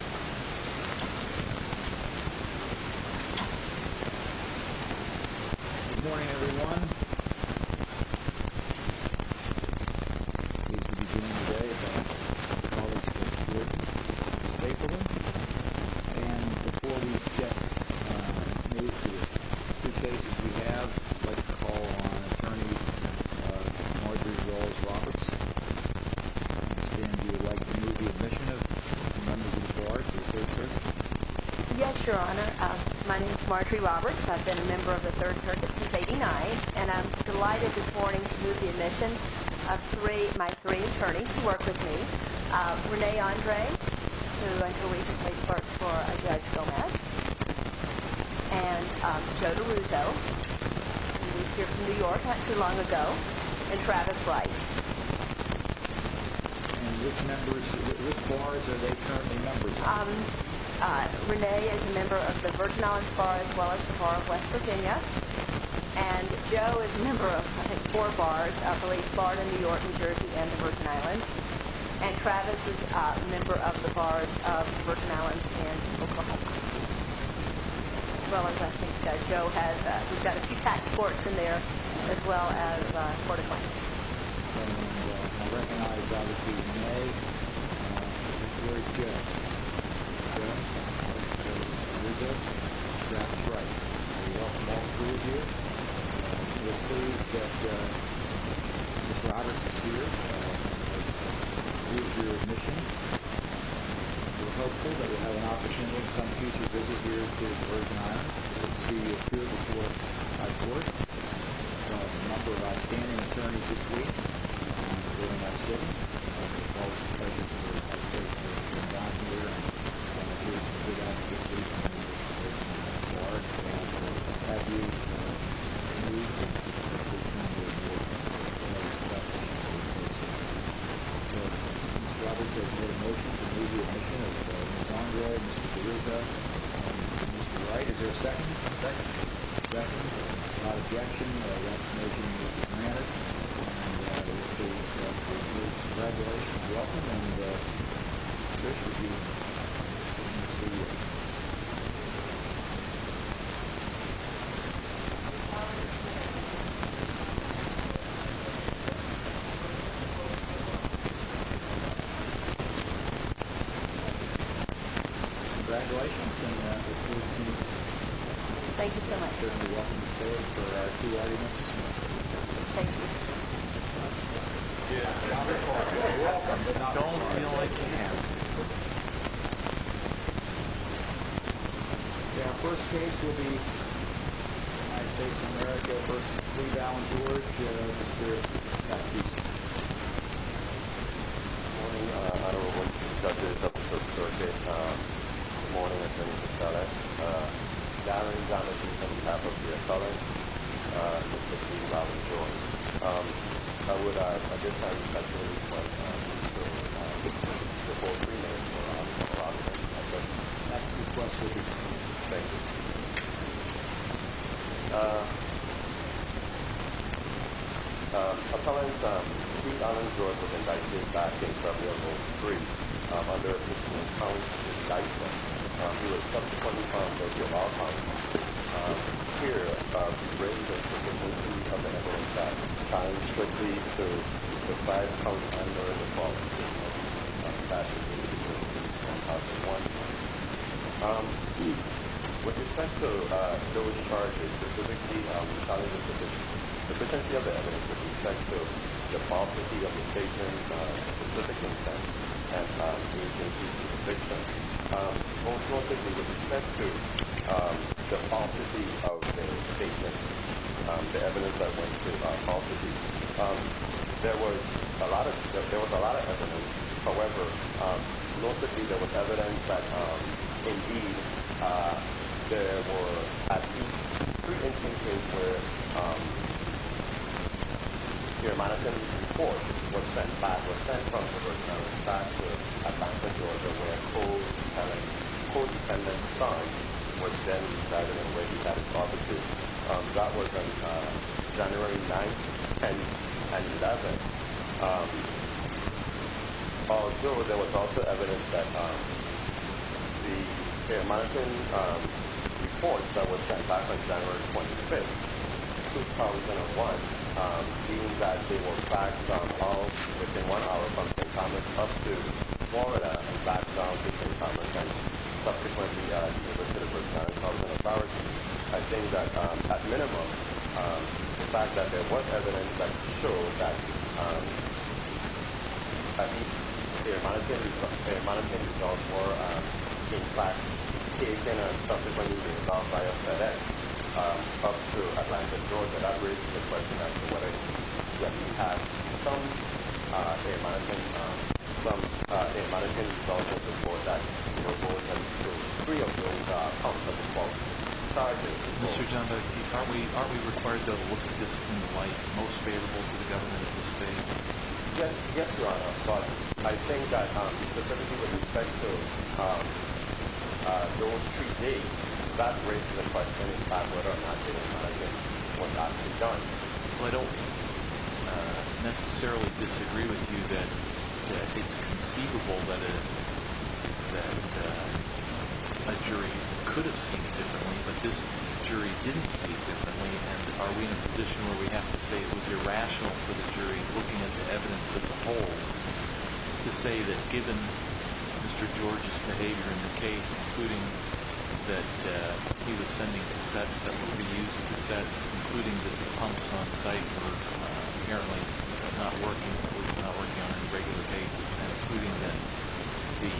Good morning, everyone. I'm pleased to be doing today a call-in to the court in Stapleton. And before we move to the cases we have, I'd like to call on Attorney Marjorie Rose Roberts. Stan, would you like to move the admission of the members of the board to the 3rd Circuit? Yes, Your Honor. My name is Marjorie Roberts. I've been a member of the 3rd Circuit since 1989. And I'm delighted this morning to move the admission of my three attorneys who work with me. Rene Andre, who until recently worked for Judge Gomez. And Joe DiRusso, who moved here from New York not too long ago. And Travis Wright. And which members, which bars are they currently members of? Rene is a member of the Virgin Islands Bar, as well as the Bar of West Virginia. And Joe is a member of, I think, four bars. I believe Florida, New York, New Jersey, and the Virgin Islands. And Travis is a member of the bars of the Virgin Islands and Oklahoma. As well as, I think, Joe has, we've got a few tax courts in there, as well as a court of claims. I recognize, obviously, Renee. Thank you, Joe. And you, Joe? Travis Wright. Travis Wright. We welcome all three of you. And we're pleased that Mr. Roberts is here to move your admission. We're hopeful that we'll have an opportunity in some future visits here to the Virgin Islands to appear before our courts. We've got a number of outstanding attorneys this week, including our city. It's always a pleasure to work with you. We're glad you're here. Thank you. Good luck this week. And have a happy new year. Thank you. Thank you. Thank you. Congratulations. Thank you so much. Thank you. You're welcome, but don't feel like you have to. Okay, our first case will be United States of America. First, please, Alan George. You're next. Thank you, sir. Good morning. I don't know if we can discuss this. I'm so sorry. Good morning. I just wanted to start out. My name is Alan George. I'm a Catholic. I'm a Catholic. I'm 16. My name is Alan George. I would, I guess I would like to request a request for a full three minutes for Mr. Roberts. I just have a few questions. Thank you. I just have a quick question. First, North Dixie, the potency of the evidence with respect to the falsity of the statement, specific intent, anti-Semitism, suspicion, both North Dixie with respect to the falsity of their statement, the evidence that went through by falsity, there was a lot of evidence. However, North Dixie, there was evidence that, indeed, there were at least three instances where the amount of evidence reported was sent back, was sent from North Dixie and was sent back to Atlanta, Georgia, where a co-dependent's son was then driving away. Obviously, that was on January 9th, 10th, and 11th. Also, there was also evidence that the amount of reports that were sent back on January 25th, 2001, being that they were backed up within one hour from St. Thomas up to Florida and backed down to St. Thomas and subsequently to the first town of Colorado. I think that, at minimum, the fact that there was evidence that showed that at least the amount of things that were in fact taken and subsequently resolved by a FedEx up to Atlanta, Georgia, that raises the question as to whether you at least have some amount of evidence also for that, you know, those three accounts of the false charges. Mr. Janda, aren't we required to look at this in light, most favorable to the government of the state? Yes, Your Honor. But I think that, specifically with respect to those three days, that raises the question as to whether or not they were not done. Well, I don't necessarily disagree with you that it's conceivable that a jury could have seen it differently, but this jury didn't see it differently. And are we in a position where we have to say it was irrational for the jury, looking at the evidence as a whole, to say that given Mr. George's behavior in the case, including that he was sending cassettes that were being used, including that the pumps on site were apparently not working or was not working on a regular basis, and including that the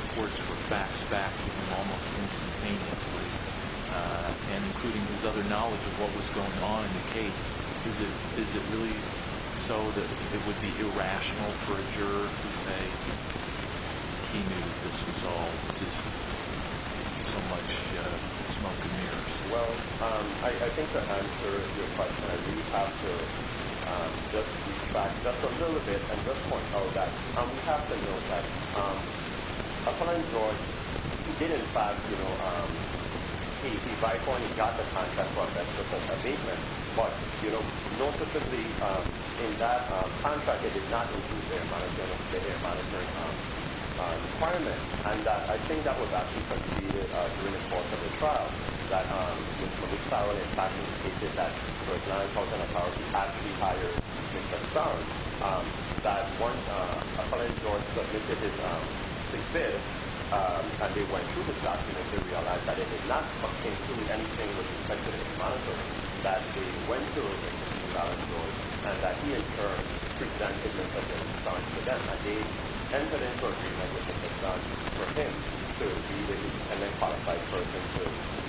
reports were faxed back to him almost instantaneously, and including his other knowledge of what was going on in the case, is it really so that it would be irrational for a juror to say that he knew this was all just so much smoke and mirrors? Well, I think to answer your question, I think we have to just retract just a little bit and just point out that we have to note that, upon George, he did in fact, you know, he by point got the contract for a 10% abatement, but you know, noticeably in that contract it did not include the air monitoring requirements. And I think that was actually conceded during the course of the trial, that Mr. McFarland in fact indicated that, for example, in the trial he actually hired Mr. Stone, that once apparently George submitted his bid, and they went through his document, they realized that it did not include anything with respect to the monitoring that they went through in the trial of George, and that he in turn presented Mr. Dillenstein to them, and they entered into agreement with Mr. Stone for him to be the qualified person to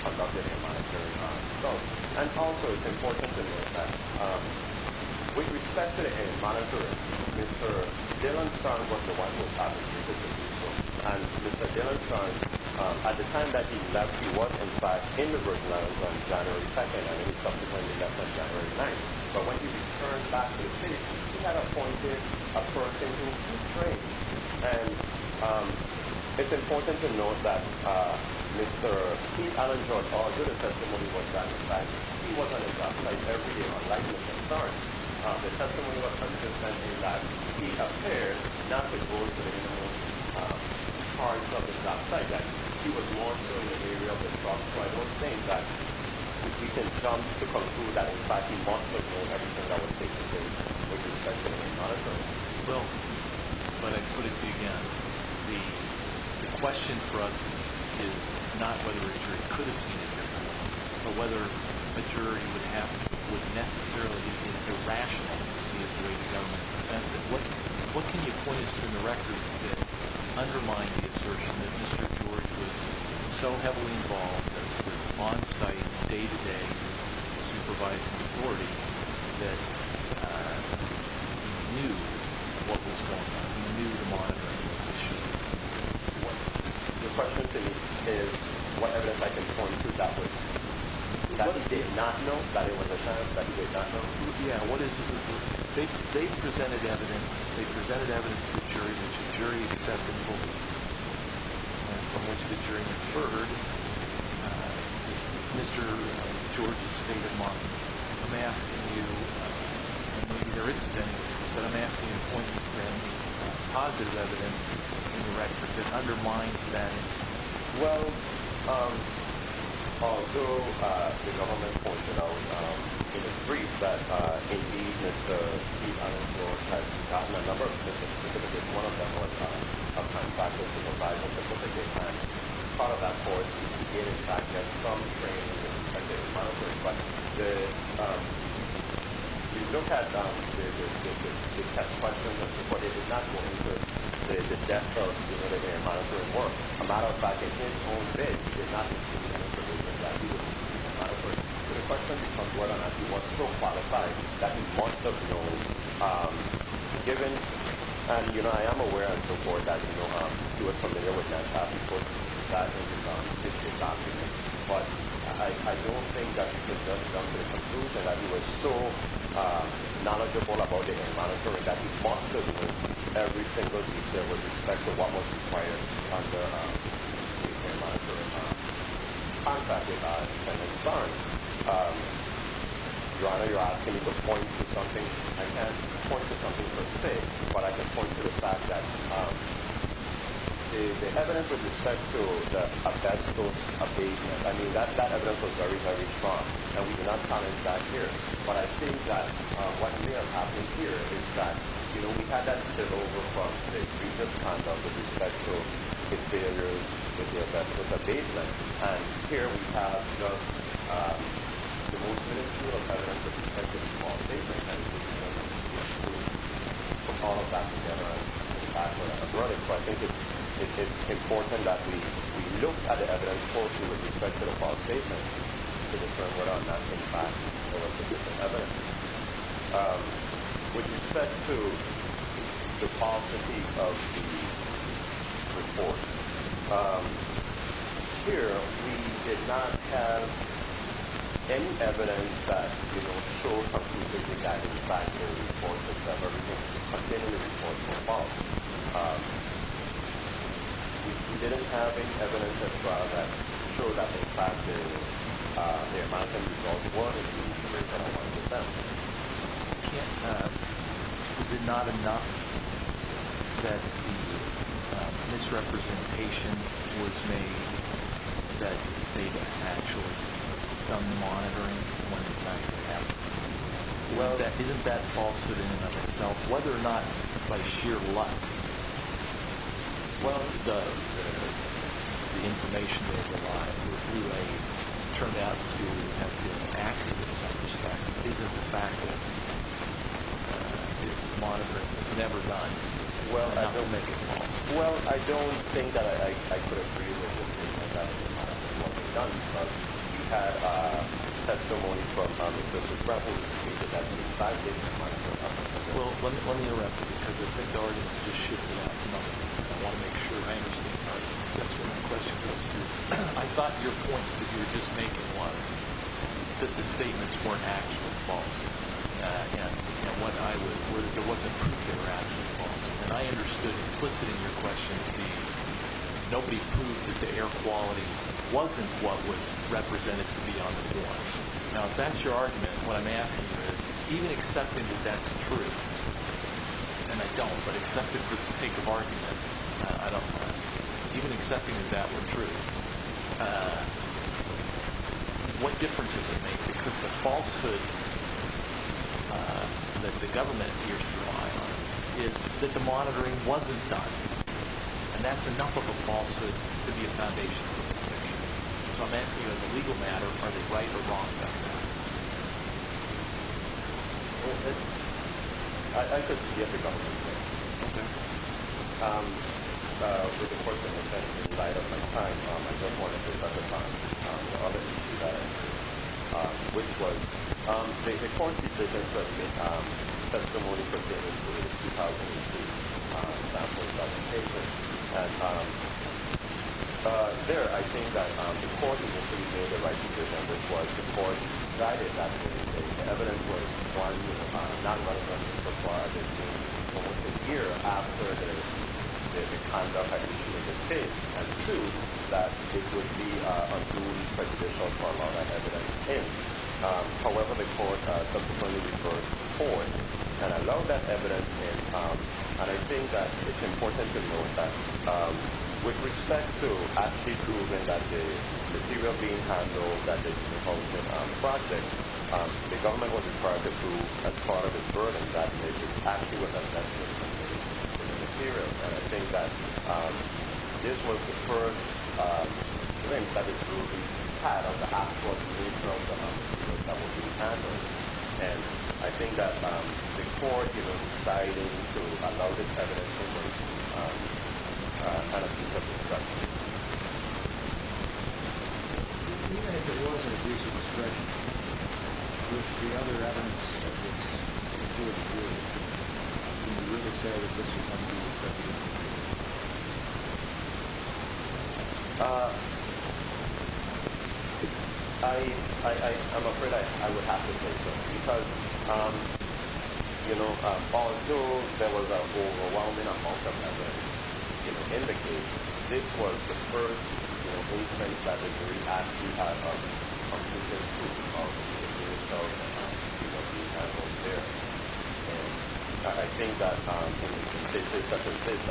conduct the air monitoring. And also, it's important to note that, with respect to the air monitoring, Mr. Dillenstein was the one who published the interview. And Mr. Dillenstein, at the time that he left, he was in fact in the Virgin Islands on January 2nd, and then he subsequently left on January 9th. But when he returned back to the city, he had appointed a person to train. And it's important to note that Mr. Pete Allen George Auger, the testimony was that he was on a drop site every day, unlike Mr. Starks. The testimony was consistent in that he appeared not to go to the cars on the drop site, that he was also in an area on the drop site. I'm saying that we can come to the conclusion that in fact he must have known everything that was stated in the testimony and the monitoring. Well, but I put it to you again, the question for us is not whether a jury could have seen it differently, but whether a jury would necessarily be irrational to see it the way the government defends it. What can you point us to in the record that undermined the assertion that Mr. George was so heavily involved as the on-site, day-to-day, supervised authority that he knew what was going on, he knew the monitoring was issued? The question to me is what evidence I can point to that would, that he did not know that it was a chance, that he did not know. Yeah, what is, they presented evidence, they presented evidence to the jury, which the jury accepted fully, and from which the jury inferred Mr. George's state of mind. I'm asking you, and maybe there isn't any, but I'm asking you to point me to any positive evidence in the record that undermines that. Well, although the government pointed out in its brief that indeed Mr. George had gotten a number of certificates, one of them was a contractual supervisor certificate, and part of that force did in fact get some training in technical monitoring, but the, you look at the test questions as to what it is not going to do, the depth of the monitoring work that he was doing, as a matter of fact, in his own bed, he did not receive any information that he was doing, as a matter of fact. So the question becomes whether or not he was so qualified that he must have known, given, and you know, I am aware and so forth, that he was familiar with that, that he put that in his document, but I don't think that it does come to the conclusion that he was so knowledgeable about data and monitoring that he must have known every single detail with respect to what was required under the contract that he signed. Your Honor, you're asking me to point to something, I can't point to something per se, but I can point to the fact that the evidence with respect to a test of abatement, I mean, that evidence was very, very strong, and we did not comment that here, but I think that what may have been the kind of, with respect to his failures with the test of abatement, and here we have the most miniscule evidence with respect to the false statement, and we have to put all of that together, and in fact, we're running, so I think it's important that we look at the evidence closely with respect to the false statement, to determine whether or not that was in fact the true evidence. With respect to the falsity of the report, here we did not have any evidence that, you know, showed completely that the fact in the report was that everything contained in the report was false. We didn't have any evidence as well that showed up in fact that there might have been false words in the report. Is it not enough that the misrepresentation was made that they didn't actually come to monitoring when the fact happened? Isn't that falsehood in and of itself, whether or not by sheer luck, well, it does. The information they provide through aid turned out to have been accurate in some respect, but is it the fact that the monitoring was never done? Well, I don't think that I could agree with the statement that the monitoring was never done, because you had testimony from Mr. Bradley, and he said that was five days before it happened. Well, let me interrupt you, because if the guardians just shoot me out, I want to make sure I understand correctly, because that's what my question goes to. I thought your point that you were just making was that the statements weren't actually false, and there wasn't proof they were actually false, and I understood implicit in your question to be nobody proved that the air quality wasn't what was represented to be on the floors. Now, if that's your argument, what I'm asking you is, even accepting that that's true, and I don't, but accepting for the sake of argument, I don't mind, even accepting that that were true, what difference does it make? Because the falsehood that the government appears to rely on is that the foundation of the conviction. So I'm asking you, as a legal matter, are they right or wrong about that? Well, I could speak at the government's expense. Okay. The court made the right decision, which was the court decided that the evidence was one, non-violence was required almost a year after the conduct that you see in this case, and two, that it would be undue prejudicial to allow that evidence in. However, the court subsequently reversed the court and allowed that evidence in, and I think that it's important to note that with respect to actually proving that the material being handled, that this wasn't part of the proof, as part of the burden that was attached to it, that this material, and I think that this was the first glimpse that the truth had of the actual situation of the homicide that was being handled, and I think that the court decided to allow this evidence for the first time. Even if it wasn't a case of destruction, would the other evidence of this include the jury? Would you really say that this was a case of destruction? I'm afraid I would have to say so, because, you know, Paul and Bill, fellows are all in the case, this was the first case that the jury actually had of the truth of the case, and I think that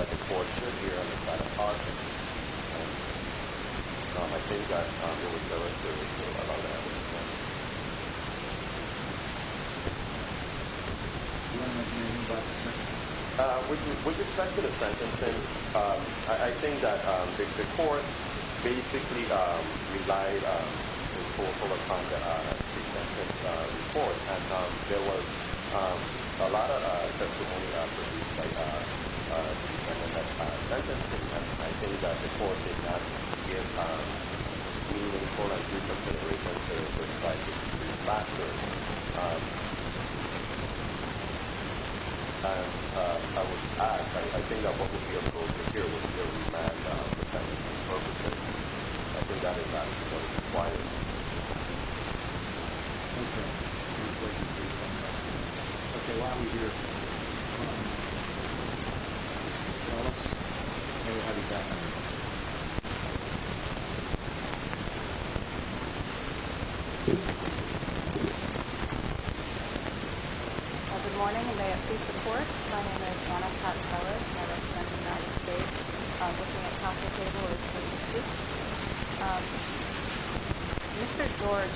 the court should hear this kind of talk, and I think that there was a lot of discussion about that. Do you have anything to add, sir? With respect to the sentencing, I think that the court basically relied on a pre-sentence report, and there was a lot of testimony produced in the sentencing, and I think that the court actually considered a pre-sentence report to try to prove facts, and I think that what would be appropriate here would be a remand for sentencing purposes, and I think that is what is required. Okay. Congratulations. Thank you. Okay, why are we here? Ms. Ellis, may we have you back, please? Good morning, and may it please the court, my name is Anna Pat Ellis, and I'm from the United States. With me at the table is Mr. Fuchs. Mr. George,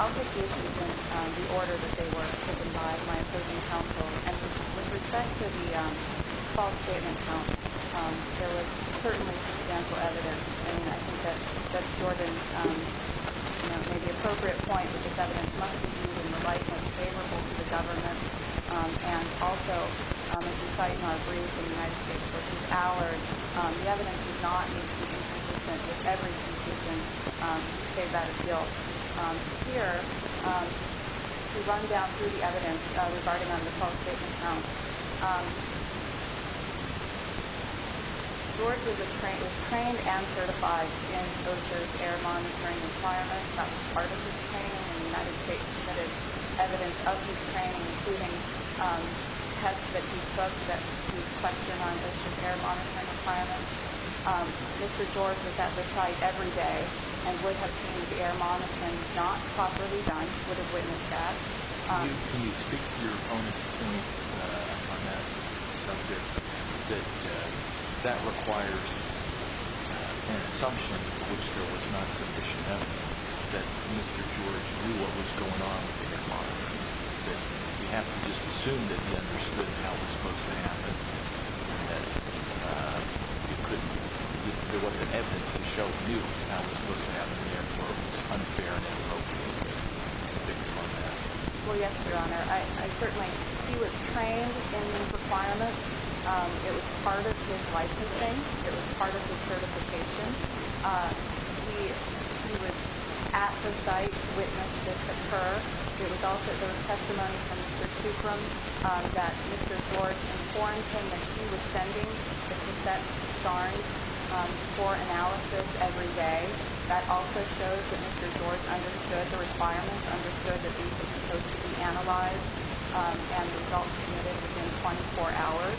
I'll get the issues in the order that they were taken by my opposing counsel, and with respect to the false statement counts, there was certainly substantial evidence, and I think that Judge Jordan made the appropriate point that this evidence must be viewed in the light most favorable to the government, and also, as we cite in our brief in the United States, this evidence does not need to be inconsistent with every conclusion to save that appeal. Here, to run down through the evidence regarding on the false statement counts, George was trained and certified in OSHA's air monitoring requirements, that was part of his training, and the United States submitted evidence of his training, including tests that he took on OSHA's air monitoring requirements. Mr. George was at the site every day and would have seen the air monitoring not properly done, would have witnessed that. Can you speak to your opponent's opinion on that subject, that that requires an assumption in which there was not sufficient evidence that Mr. George knew what was going on with him, and that there wasn't evidence to show you how it was supposed to happen, and therefore it was unfair and inappropriate to take him on that? Well, yes, Your Honor. Certainly, he was trained in these requirements. It was part of his licensing. It was part of his certification. He was at the site, witnessed this occur. It was also, there was testimony from Mr. Soukram that Mr. George informed him that he was sending the cassettes to STARNs for analysis every day. That also shows that Mr. George understood the requirements, understood that these were supposed to be analyzed, and the results submitted within 24 hours.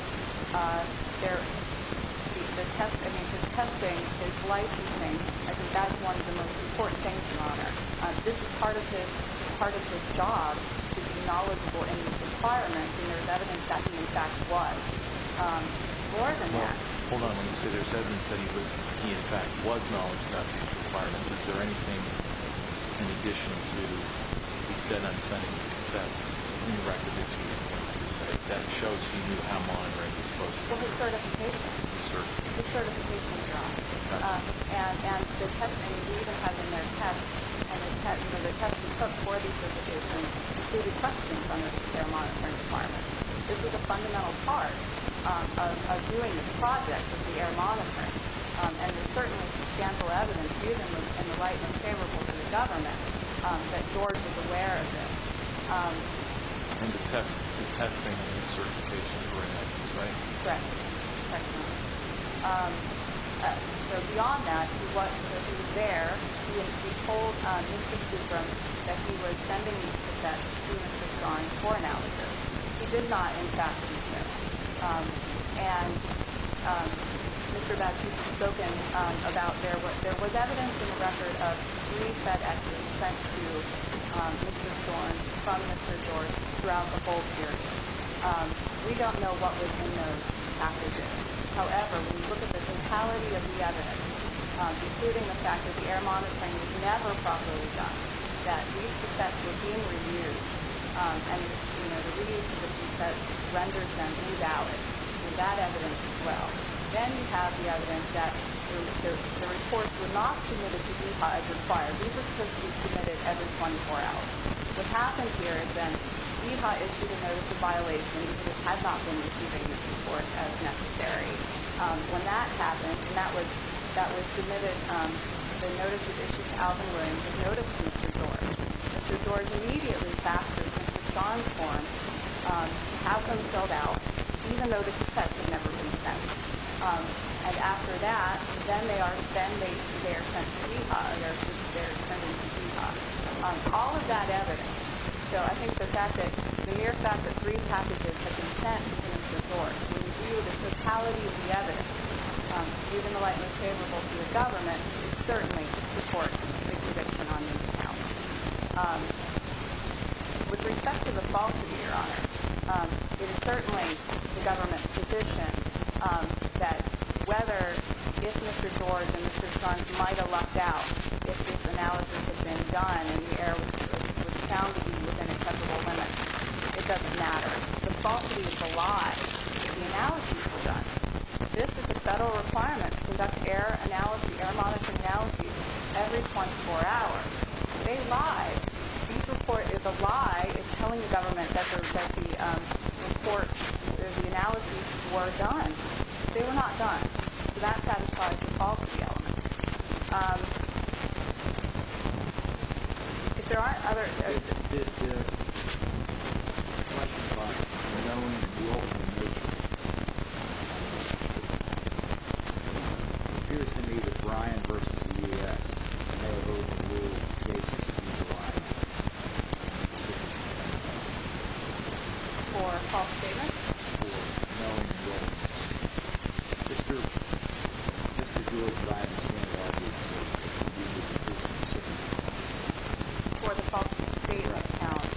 The test, I mean, his testing, his licensing, I think that's one of the most important things, Your Honor. This is part of his job to be knowledgeable in these requirements, and there's evidence that he, in fact, was more than that. Well, hold on. When you say there's evidence that he, in fact, was knowledgeable about these requirements, is there anything in addition to he said I'm sending the cassettes, and he recorded it to you at your site, that shows he knew how monitoring was supposed to be done? His certification. His certification, Your Honor. And the testimony we even have in their test, and the test he took for the certification included questions on the air monitoring requirements. This was a fundamental part of doing this project with the air monitoring, and there's certainly substantial evidence, even in the light and favorable to the government, that George was aware of this. And the testing and the certification were in that case, right? Correct. Correct, Your Honor. So beyond that, he was there. He told Mr. Sugrum that he was sending these cassettes to Mr. Storms for analysis. He did not, in fact, use them. And Mr. Beck, you've spoken about there was evidence in the record of three FedExes sent to Mr. Storms from Mr. George throughout the whole period. We don't know what was in those packages. However, when you look at the totality of the evidence, including the fact that the air monitoring was never properly done, that these cassettes were being reused, and the reuse of the cassettes renders them invalid, and that evidence as well, then you have the evidence that the reports were not submitted to EHA as required. These were supposed to be submitted every 24 hours. What happened here is that EHA issued a notice of violation because it had not been receiving the reports as necessary. When that happened, and that was submitted, the notice was issued to Alvin Williams, who noticed Mr. George. Mr. George immediately faxes Mr. Storms' forms, has them filled out, even though the cassettes had never been sent. And after that, then they are sent to EHA, or they are sent in from EHA. All of that evidence. So I think the mere fact that three packages had been sent to Mr. George, when you view the totality of the evidence, even though it was favorable to the government, it certainly supports the conviction on these counts. With respect to the falsity, Your Honor, it is certainly the government's position that whether, if Mr. George and Mr. Storms might have lucked out, if this analysis had been done and the error was found to be within acceptable limits, it doesn't matter. The falsity is a lie. The analyses were done. This is a federal requirement to conduct error analysis, error monitoring analyses, every 24 hours. They lie. The lie is telling the government that the reports, the analyses were done. They were not done. So that satisfies the falsity element. If there are other... For the false data accounts.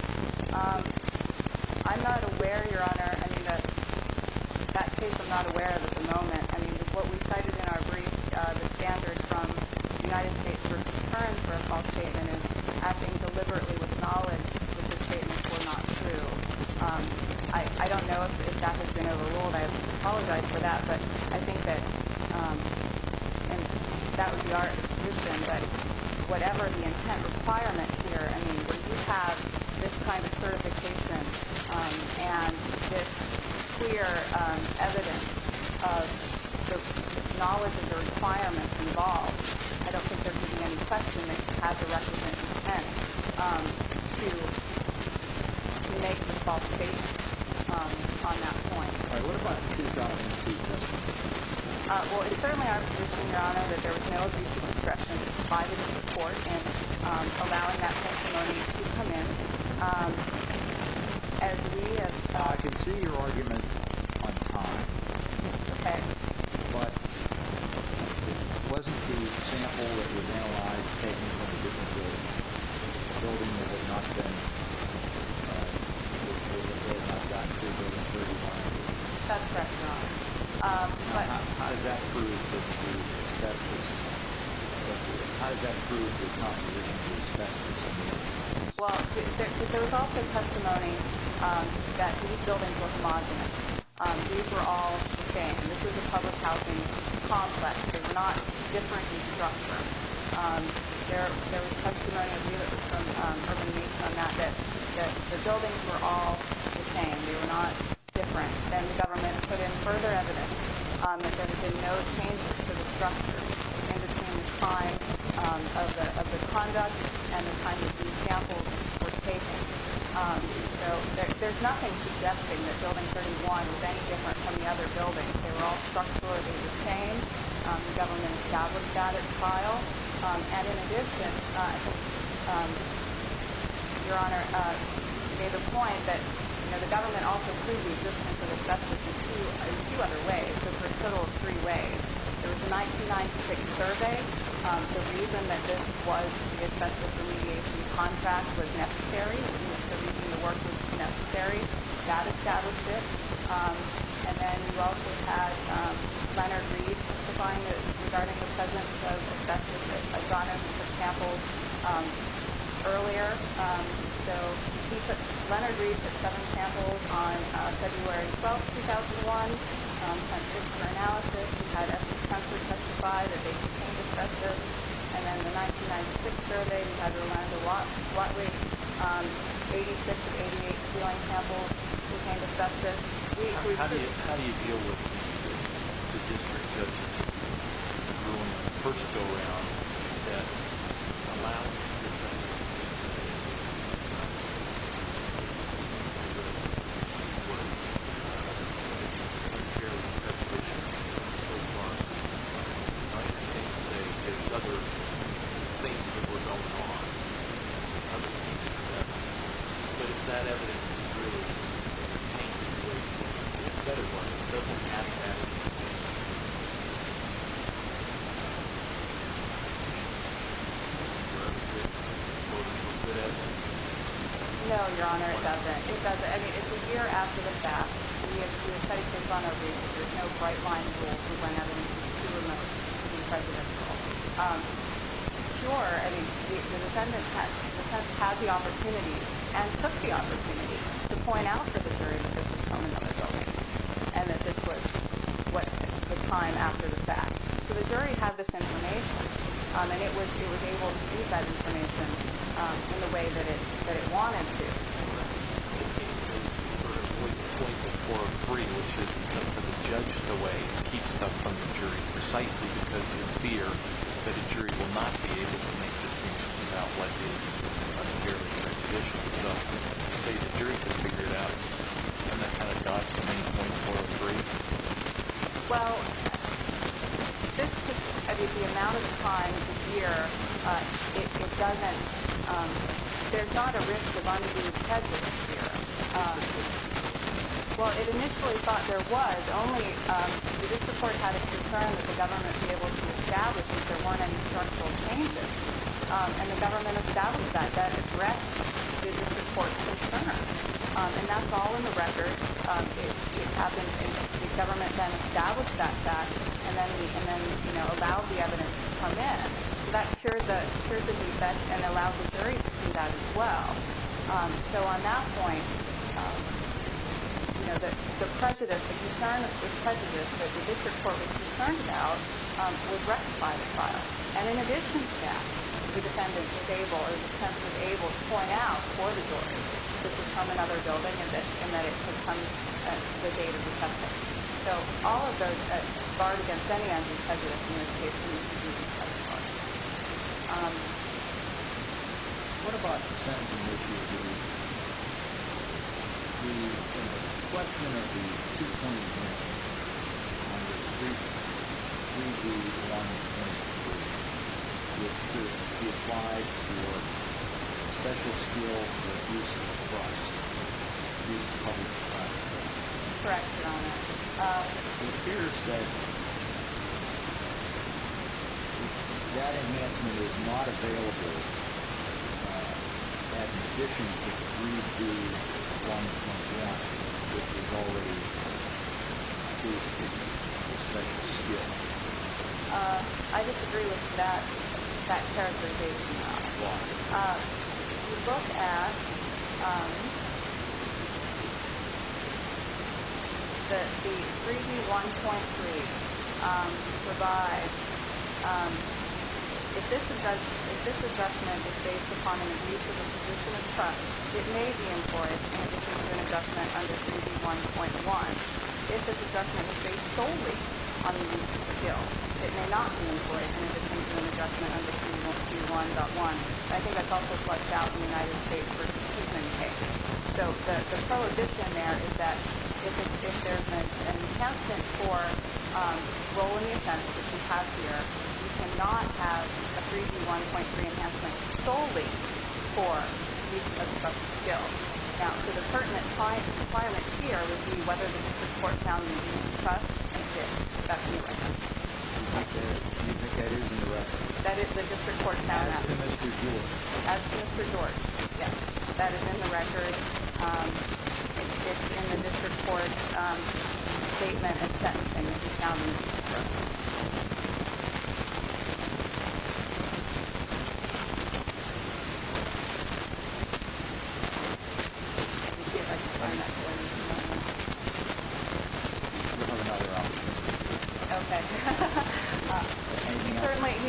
I'm not aware, Your Honor, I mean, that case I'm not aware of at the moment. I mean, what we cited in our brief, the standard from United States v. Kern for a false statement is acting deliberately with knowledge that the statements were not true. I don't know if that has been overruled. I apologize for that. But I think that, and that would be our position, that whatever the intent requirement here, I mean, when you have this kind of certification and this clear evidence of the knowledge of the requirements involved, I don't think there could be any question that you have the requisite intent to make a false statement on that point. All right. What about the 2002 testimony? Well, it's certainly our position, Your Honor, that there was no abuse of discretion by the court in allowing that testimony to come in. As we have... I can see your argument on time. Okay. But wasn't the sample that was analyzed taken from a different building, a building that had not been... That's correct, Your Honor. How does that prove that there was no abuse of discretion? Well, there was also testimony that these buildings were homogenous. These were all the same. And this was a public housing complex. They were not different in structure. There was testimony that was from Urban Mesa on that, that the buildings were all the same. They were not different. And the government put in further evidence that there had been no changes to the structure in between the time of the conduct and the time that these samples were taken. So there's nothing suggesting that Building 31 was any different from the other buildings. They were all structurally the same. The government established that at trial. And in addition, Your Honor, you made the point that the government also proved the existence of asbestos in two other ways, so for a total of three ways. There was a 1996 survey. The reason that this was the asbestos remediation contract was necessary. The reason the work was necessary. That established it. And then you also had Leonard Reed testifying regarding the presence of asbestos. I brought up the samples earlier. So he took... Leonard Reed took seven samples on February 12, 2001. He sent six for analysis. He had Essex Country testify that they contained asbestos. And then the 1996 survey, he had Rolando Watley, 86 of 88 ceiling samples contained asbestos. How do you deal with the district judges who, in the first go-round, allow the dissenters to say, this is what the district judge said, this is what it's been, this is what it's been, which is apparently a violation of the state bar. And the judge came to say, there's other things that were going on, other pieces of evidence. But if that evidence is true, it's tainted with the dissenters' markings. It doesn't have that. No, Your Honor, it doesn't. It doesn't. I mean, it's a year after the fact. We have studied this on our review. There's no bright-line rule to when evidence is too remote to be prejudicial. It's pure. I mean, the defendant has had the opportunity and took the opportunity to point out to the jury that this was from another building and that this was the time after the fact. So the jury had this information. And it was able to use that information in the way that it wanted to. Right. I just need to know, you referred to point .403, which is something that the judge can weigh and keep stuff from the jury precisely because of fear that a jury will not be able to make distinctions about what is unfairly prejudicial. So you say the jury can figure it out and that kind of dots the main .403? Well, this just, I mean, the amount of time here, it doesn't, there's not a risk of undue prejudice here. Well, it initially thought there was, only the district court had a concern that the government would be able to establish that there weren't any structural changes. And the government established that, that addressed the district court's concern. And that's all in the record. The government then established that fact and then allowed the evidence to come in. So that cured the defect and allowed the jury to see that as well. So on that point, you know, the prejudice, the concern of the prejudice that the district court was concerned about was rectified in the trial. And in addition to that, the defendant was able, or the defense was able to point out for the jury that this was from another building and that it could come at the date of the subject. So all of those, barred against any evidence of prejudice in this case, were used to do the second part. What about the sentencing that you do? The question of the two-point assessment on the 3B1.3, which is to apply your special skill to reduce the cost to the public. Correct, Your Honor. It appears that that amendment is not available in addition to 3B1.1, which is already 2B, your special skill. I disagree with that characterization. Why? You both asked that the 3B1.3 provides if this adjustment is based upon an abuse of the position of trust, it may be employed in addition to an adjustment under 3B1.1. If this adjustment is based solely on the use of skill, it may not be employed in addition to an adjustment under 3B1.1. I think that's also fleshed out in the United States v. Tiefman case. So the prohibition there is that if there's an enhancement for role in the offense, which we have here, we cannot have a 3B1.3 enhancement solely for use of special skill. So the pertinent requirement here would be whether the district court found the abuse of trust, and it did. That's in the record. You think that is in the record? That is the district court found that. As to Mr. George? As to Mr. George, yes. That is in the record. It's in the district court's statement and sentencing that he found the abuse of trust. Let me see if I can find that for you.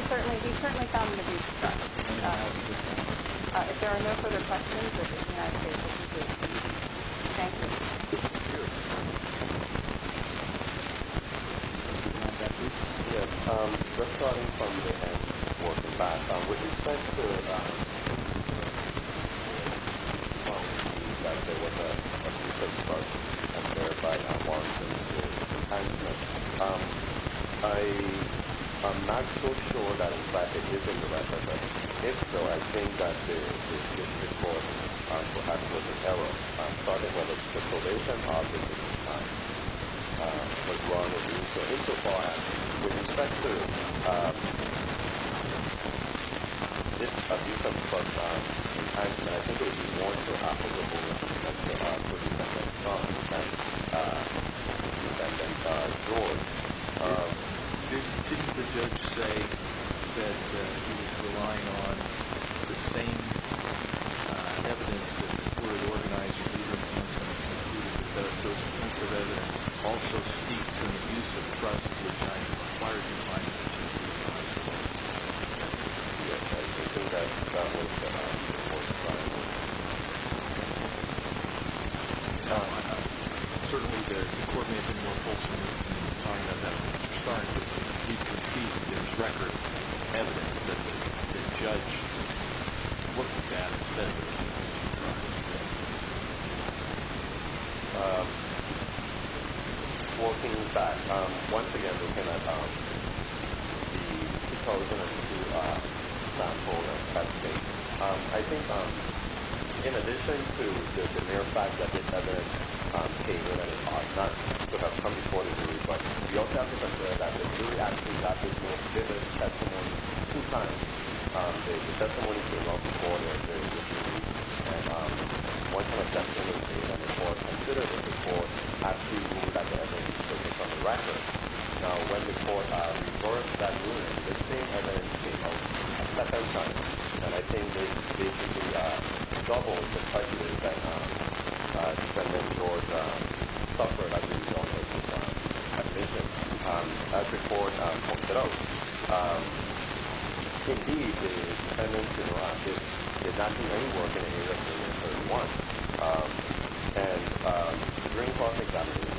He certainly found the abuse of trust. If there are no further questions, the United States will conclude. Thank you. Yes. Just starting from the end, working back with respect to what you said before, I'm terrified that Mark is going to do the same thing. I'm not so sure that in fact it is in the record. If so, I think that the district court perhaps was in error. I'm talking about the probation office was wrong in doing so. Insofar, with respect to this abuse of trust, I think it would be more acceptable for the defendant, not the defendant, George, didn't the judge say that he was relying on the same evidence that was already organized for either of these and that those pieces of evidence also speak to an abuse of trust which I have acquired in mind. Certainly, the court may have been more fulsome in starting to reconceive this record of evidence that the judge looked at and said there was an abuse of trust. Working back, once again, looking at the pros and cons of the sample investigation, I think in addition to the mere fact that this other paper could have come before the jury, but we also have to consider that the jury actually got this most vivid testimony two times. The testimony came out before and during the hearing. One such testimony that the court considered in the court has to do with the fact that I think it's based on the record. When the court recorded that ruling, the same evidence came out a second time. I think it basically doubles the prejudice that George suffered as a result of his conviction as the court pointed out. Indeed, the evidence did not seem anywhere in any of the cases that we want. During the process of examining,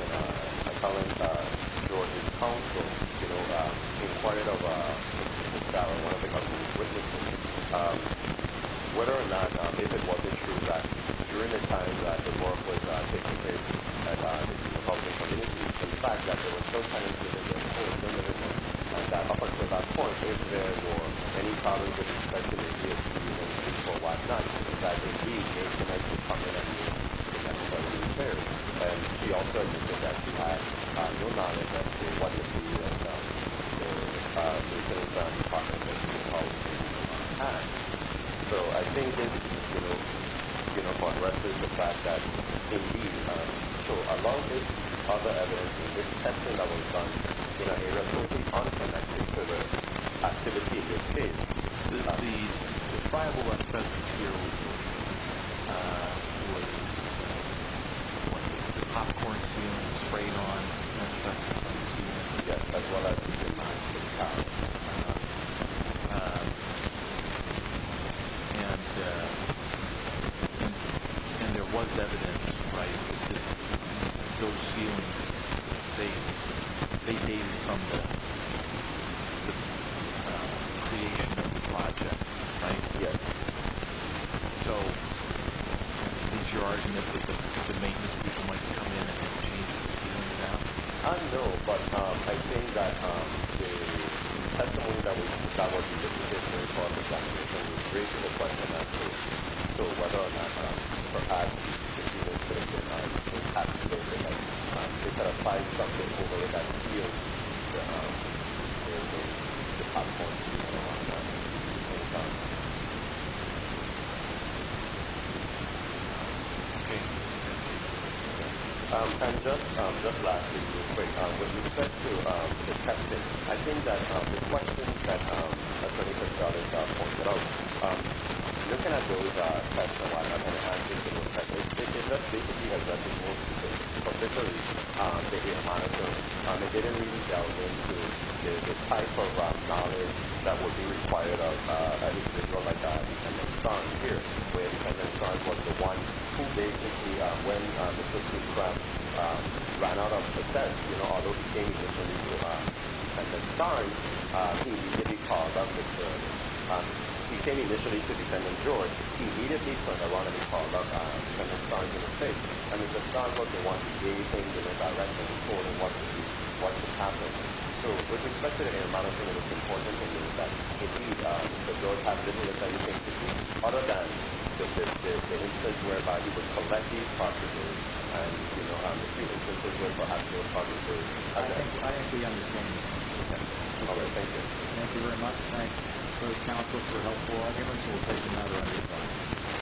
I called on George's counsel in front of one of the counsel's witnesses whether or not if it was true that during the time that the court was taking this case, the people of the community, the fact that there were those kinds of cases that George committed, and that up until that point, if there were any problems with the speculative case or whatnot, that indeed, it can actually come to light in the next couple of years. And he also admitted that he had no knowledge as to what this means as far as the department and the people of the community. So I think this unresolves the fact that indeed, so as long as other evidence is tested, other evidence is done, it resolves the connection to the activity of this case. The friable asbestos here when the popcorn is being sprayed on and asbestos is being seen, yes, as well as in the house. And there was evidence, right, that those ceilings, they date from the creation of the project, right? Yes. So, at least you're arguing that the maintenance people might come in are very concerned about that. And I think that the people of the community are very concerned about that. And I think that the testimony that we got was just a testimony for the fact that we were raising the question as to whether or not perhaps the ceilings were being impacted so that they could apply something over that ceiling to the popcorn and the other ones that were being sprayed on. And just lastly, real quick, with respect to the testing, I think that the question that Senator Scott has pointed out, looking at those tests, and what I'm going to ask you to look at, it just basically has nothing more to say. From literally the amount of those, it didn't really delve into the type of knowledge that would be required of an individual like Edmund Starnes here, when Edmund Starnes was the one who basically, when the first aircraft ran out of fuel, he came initially to Senator Starnes who did the call about this, he came to Defendant George, he immediately called up Senator Starnes and said, Senator Starnes was the one who gave the direction for what should happen. So, with respect to the amount of knowledge that Starnes had, I think it's important to know that if he, Senator Starnes didn't have anything to do other than the instance whereby he would collect his properties and the few instances where perhaps those properties were taken I think it's important to know that Senator Starnes didn't have anything to do other than the few instances where and the instances where he would collect property from himself or somebody else, he would have nothing matter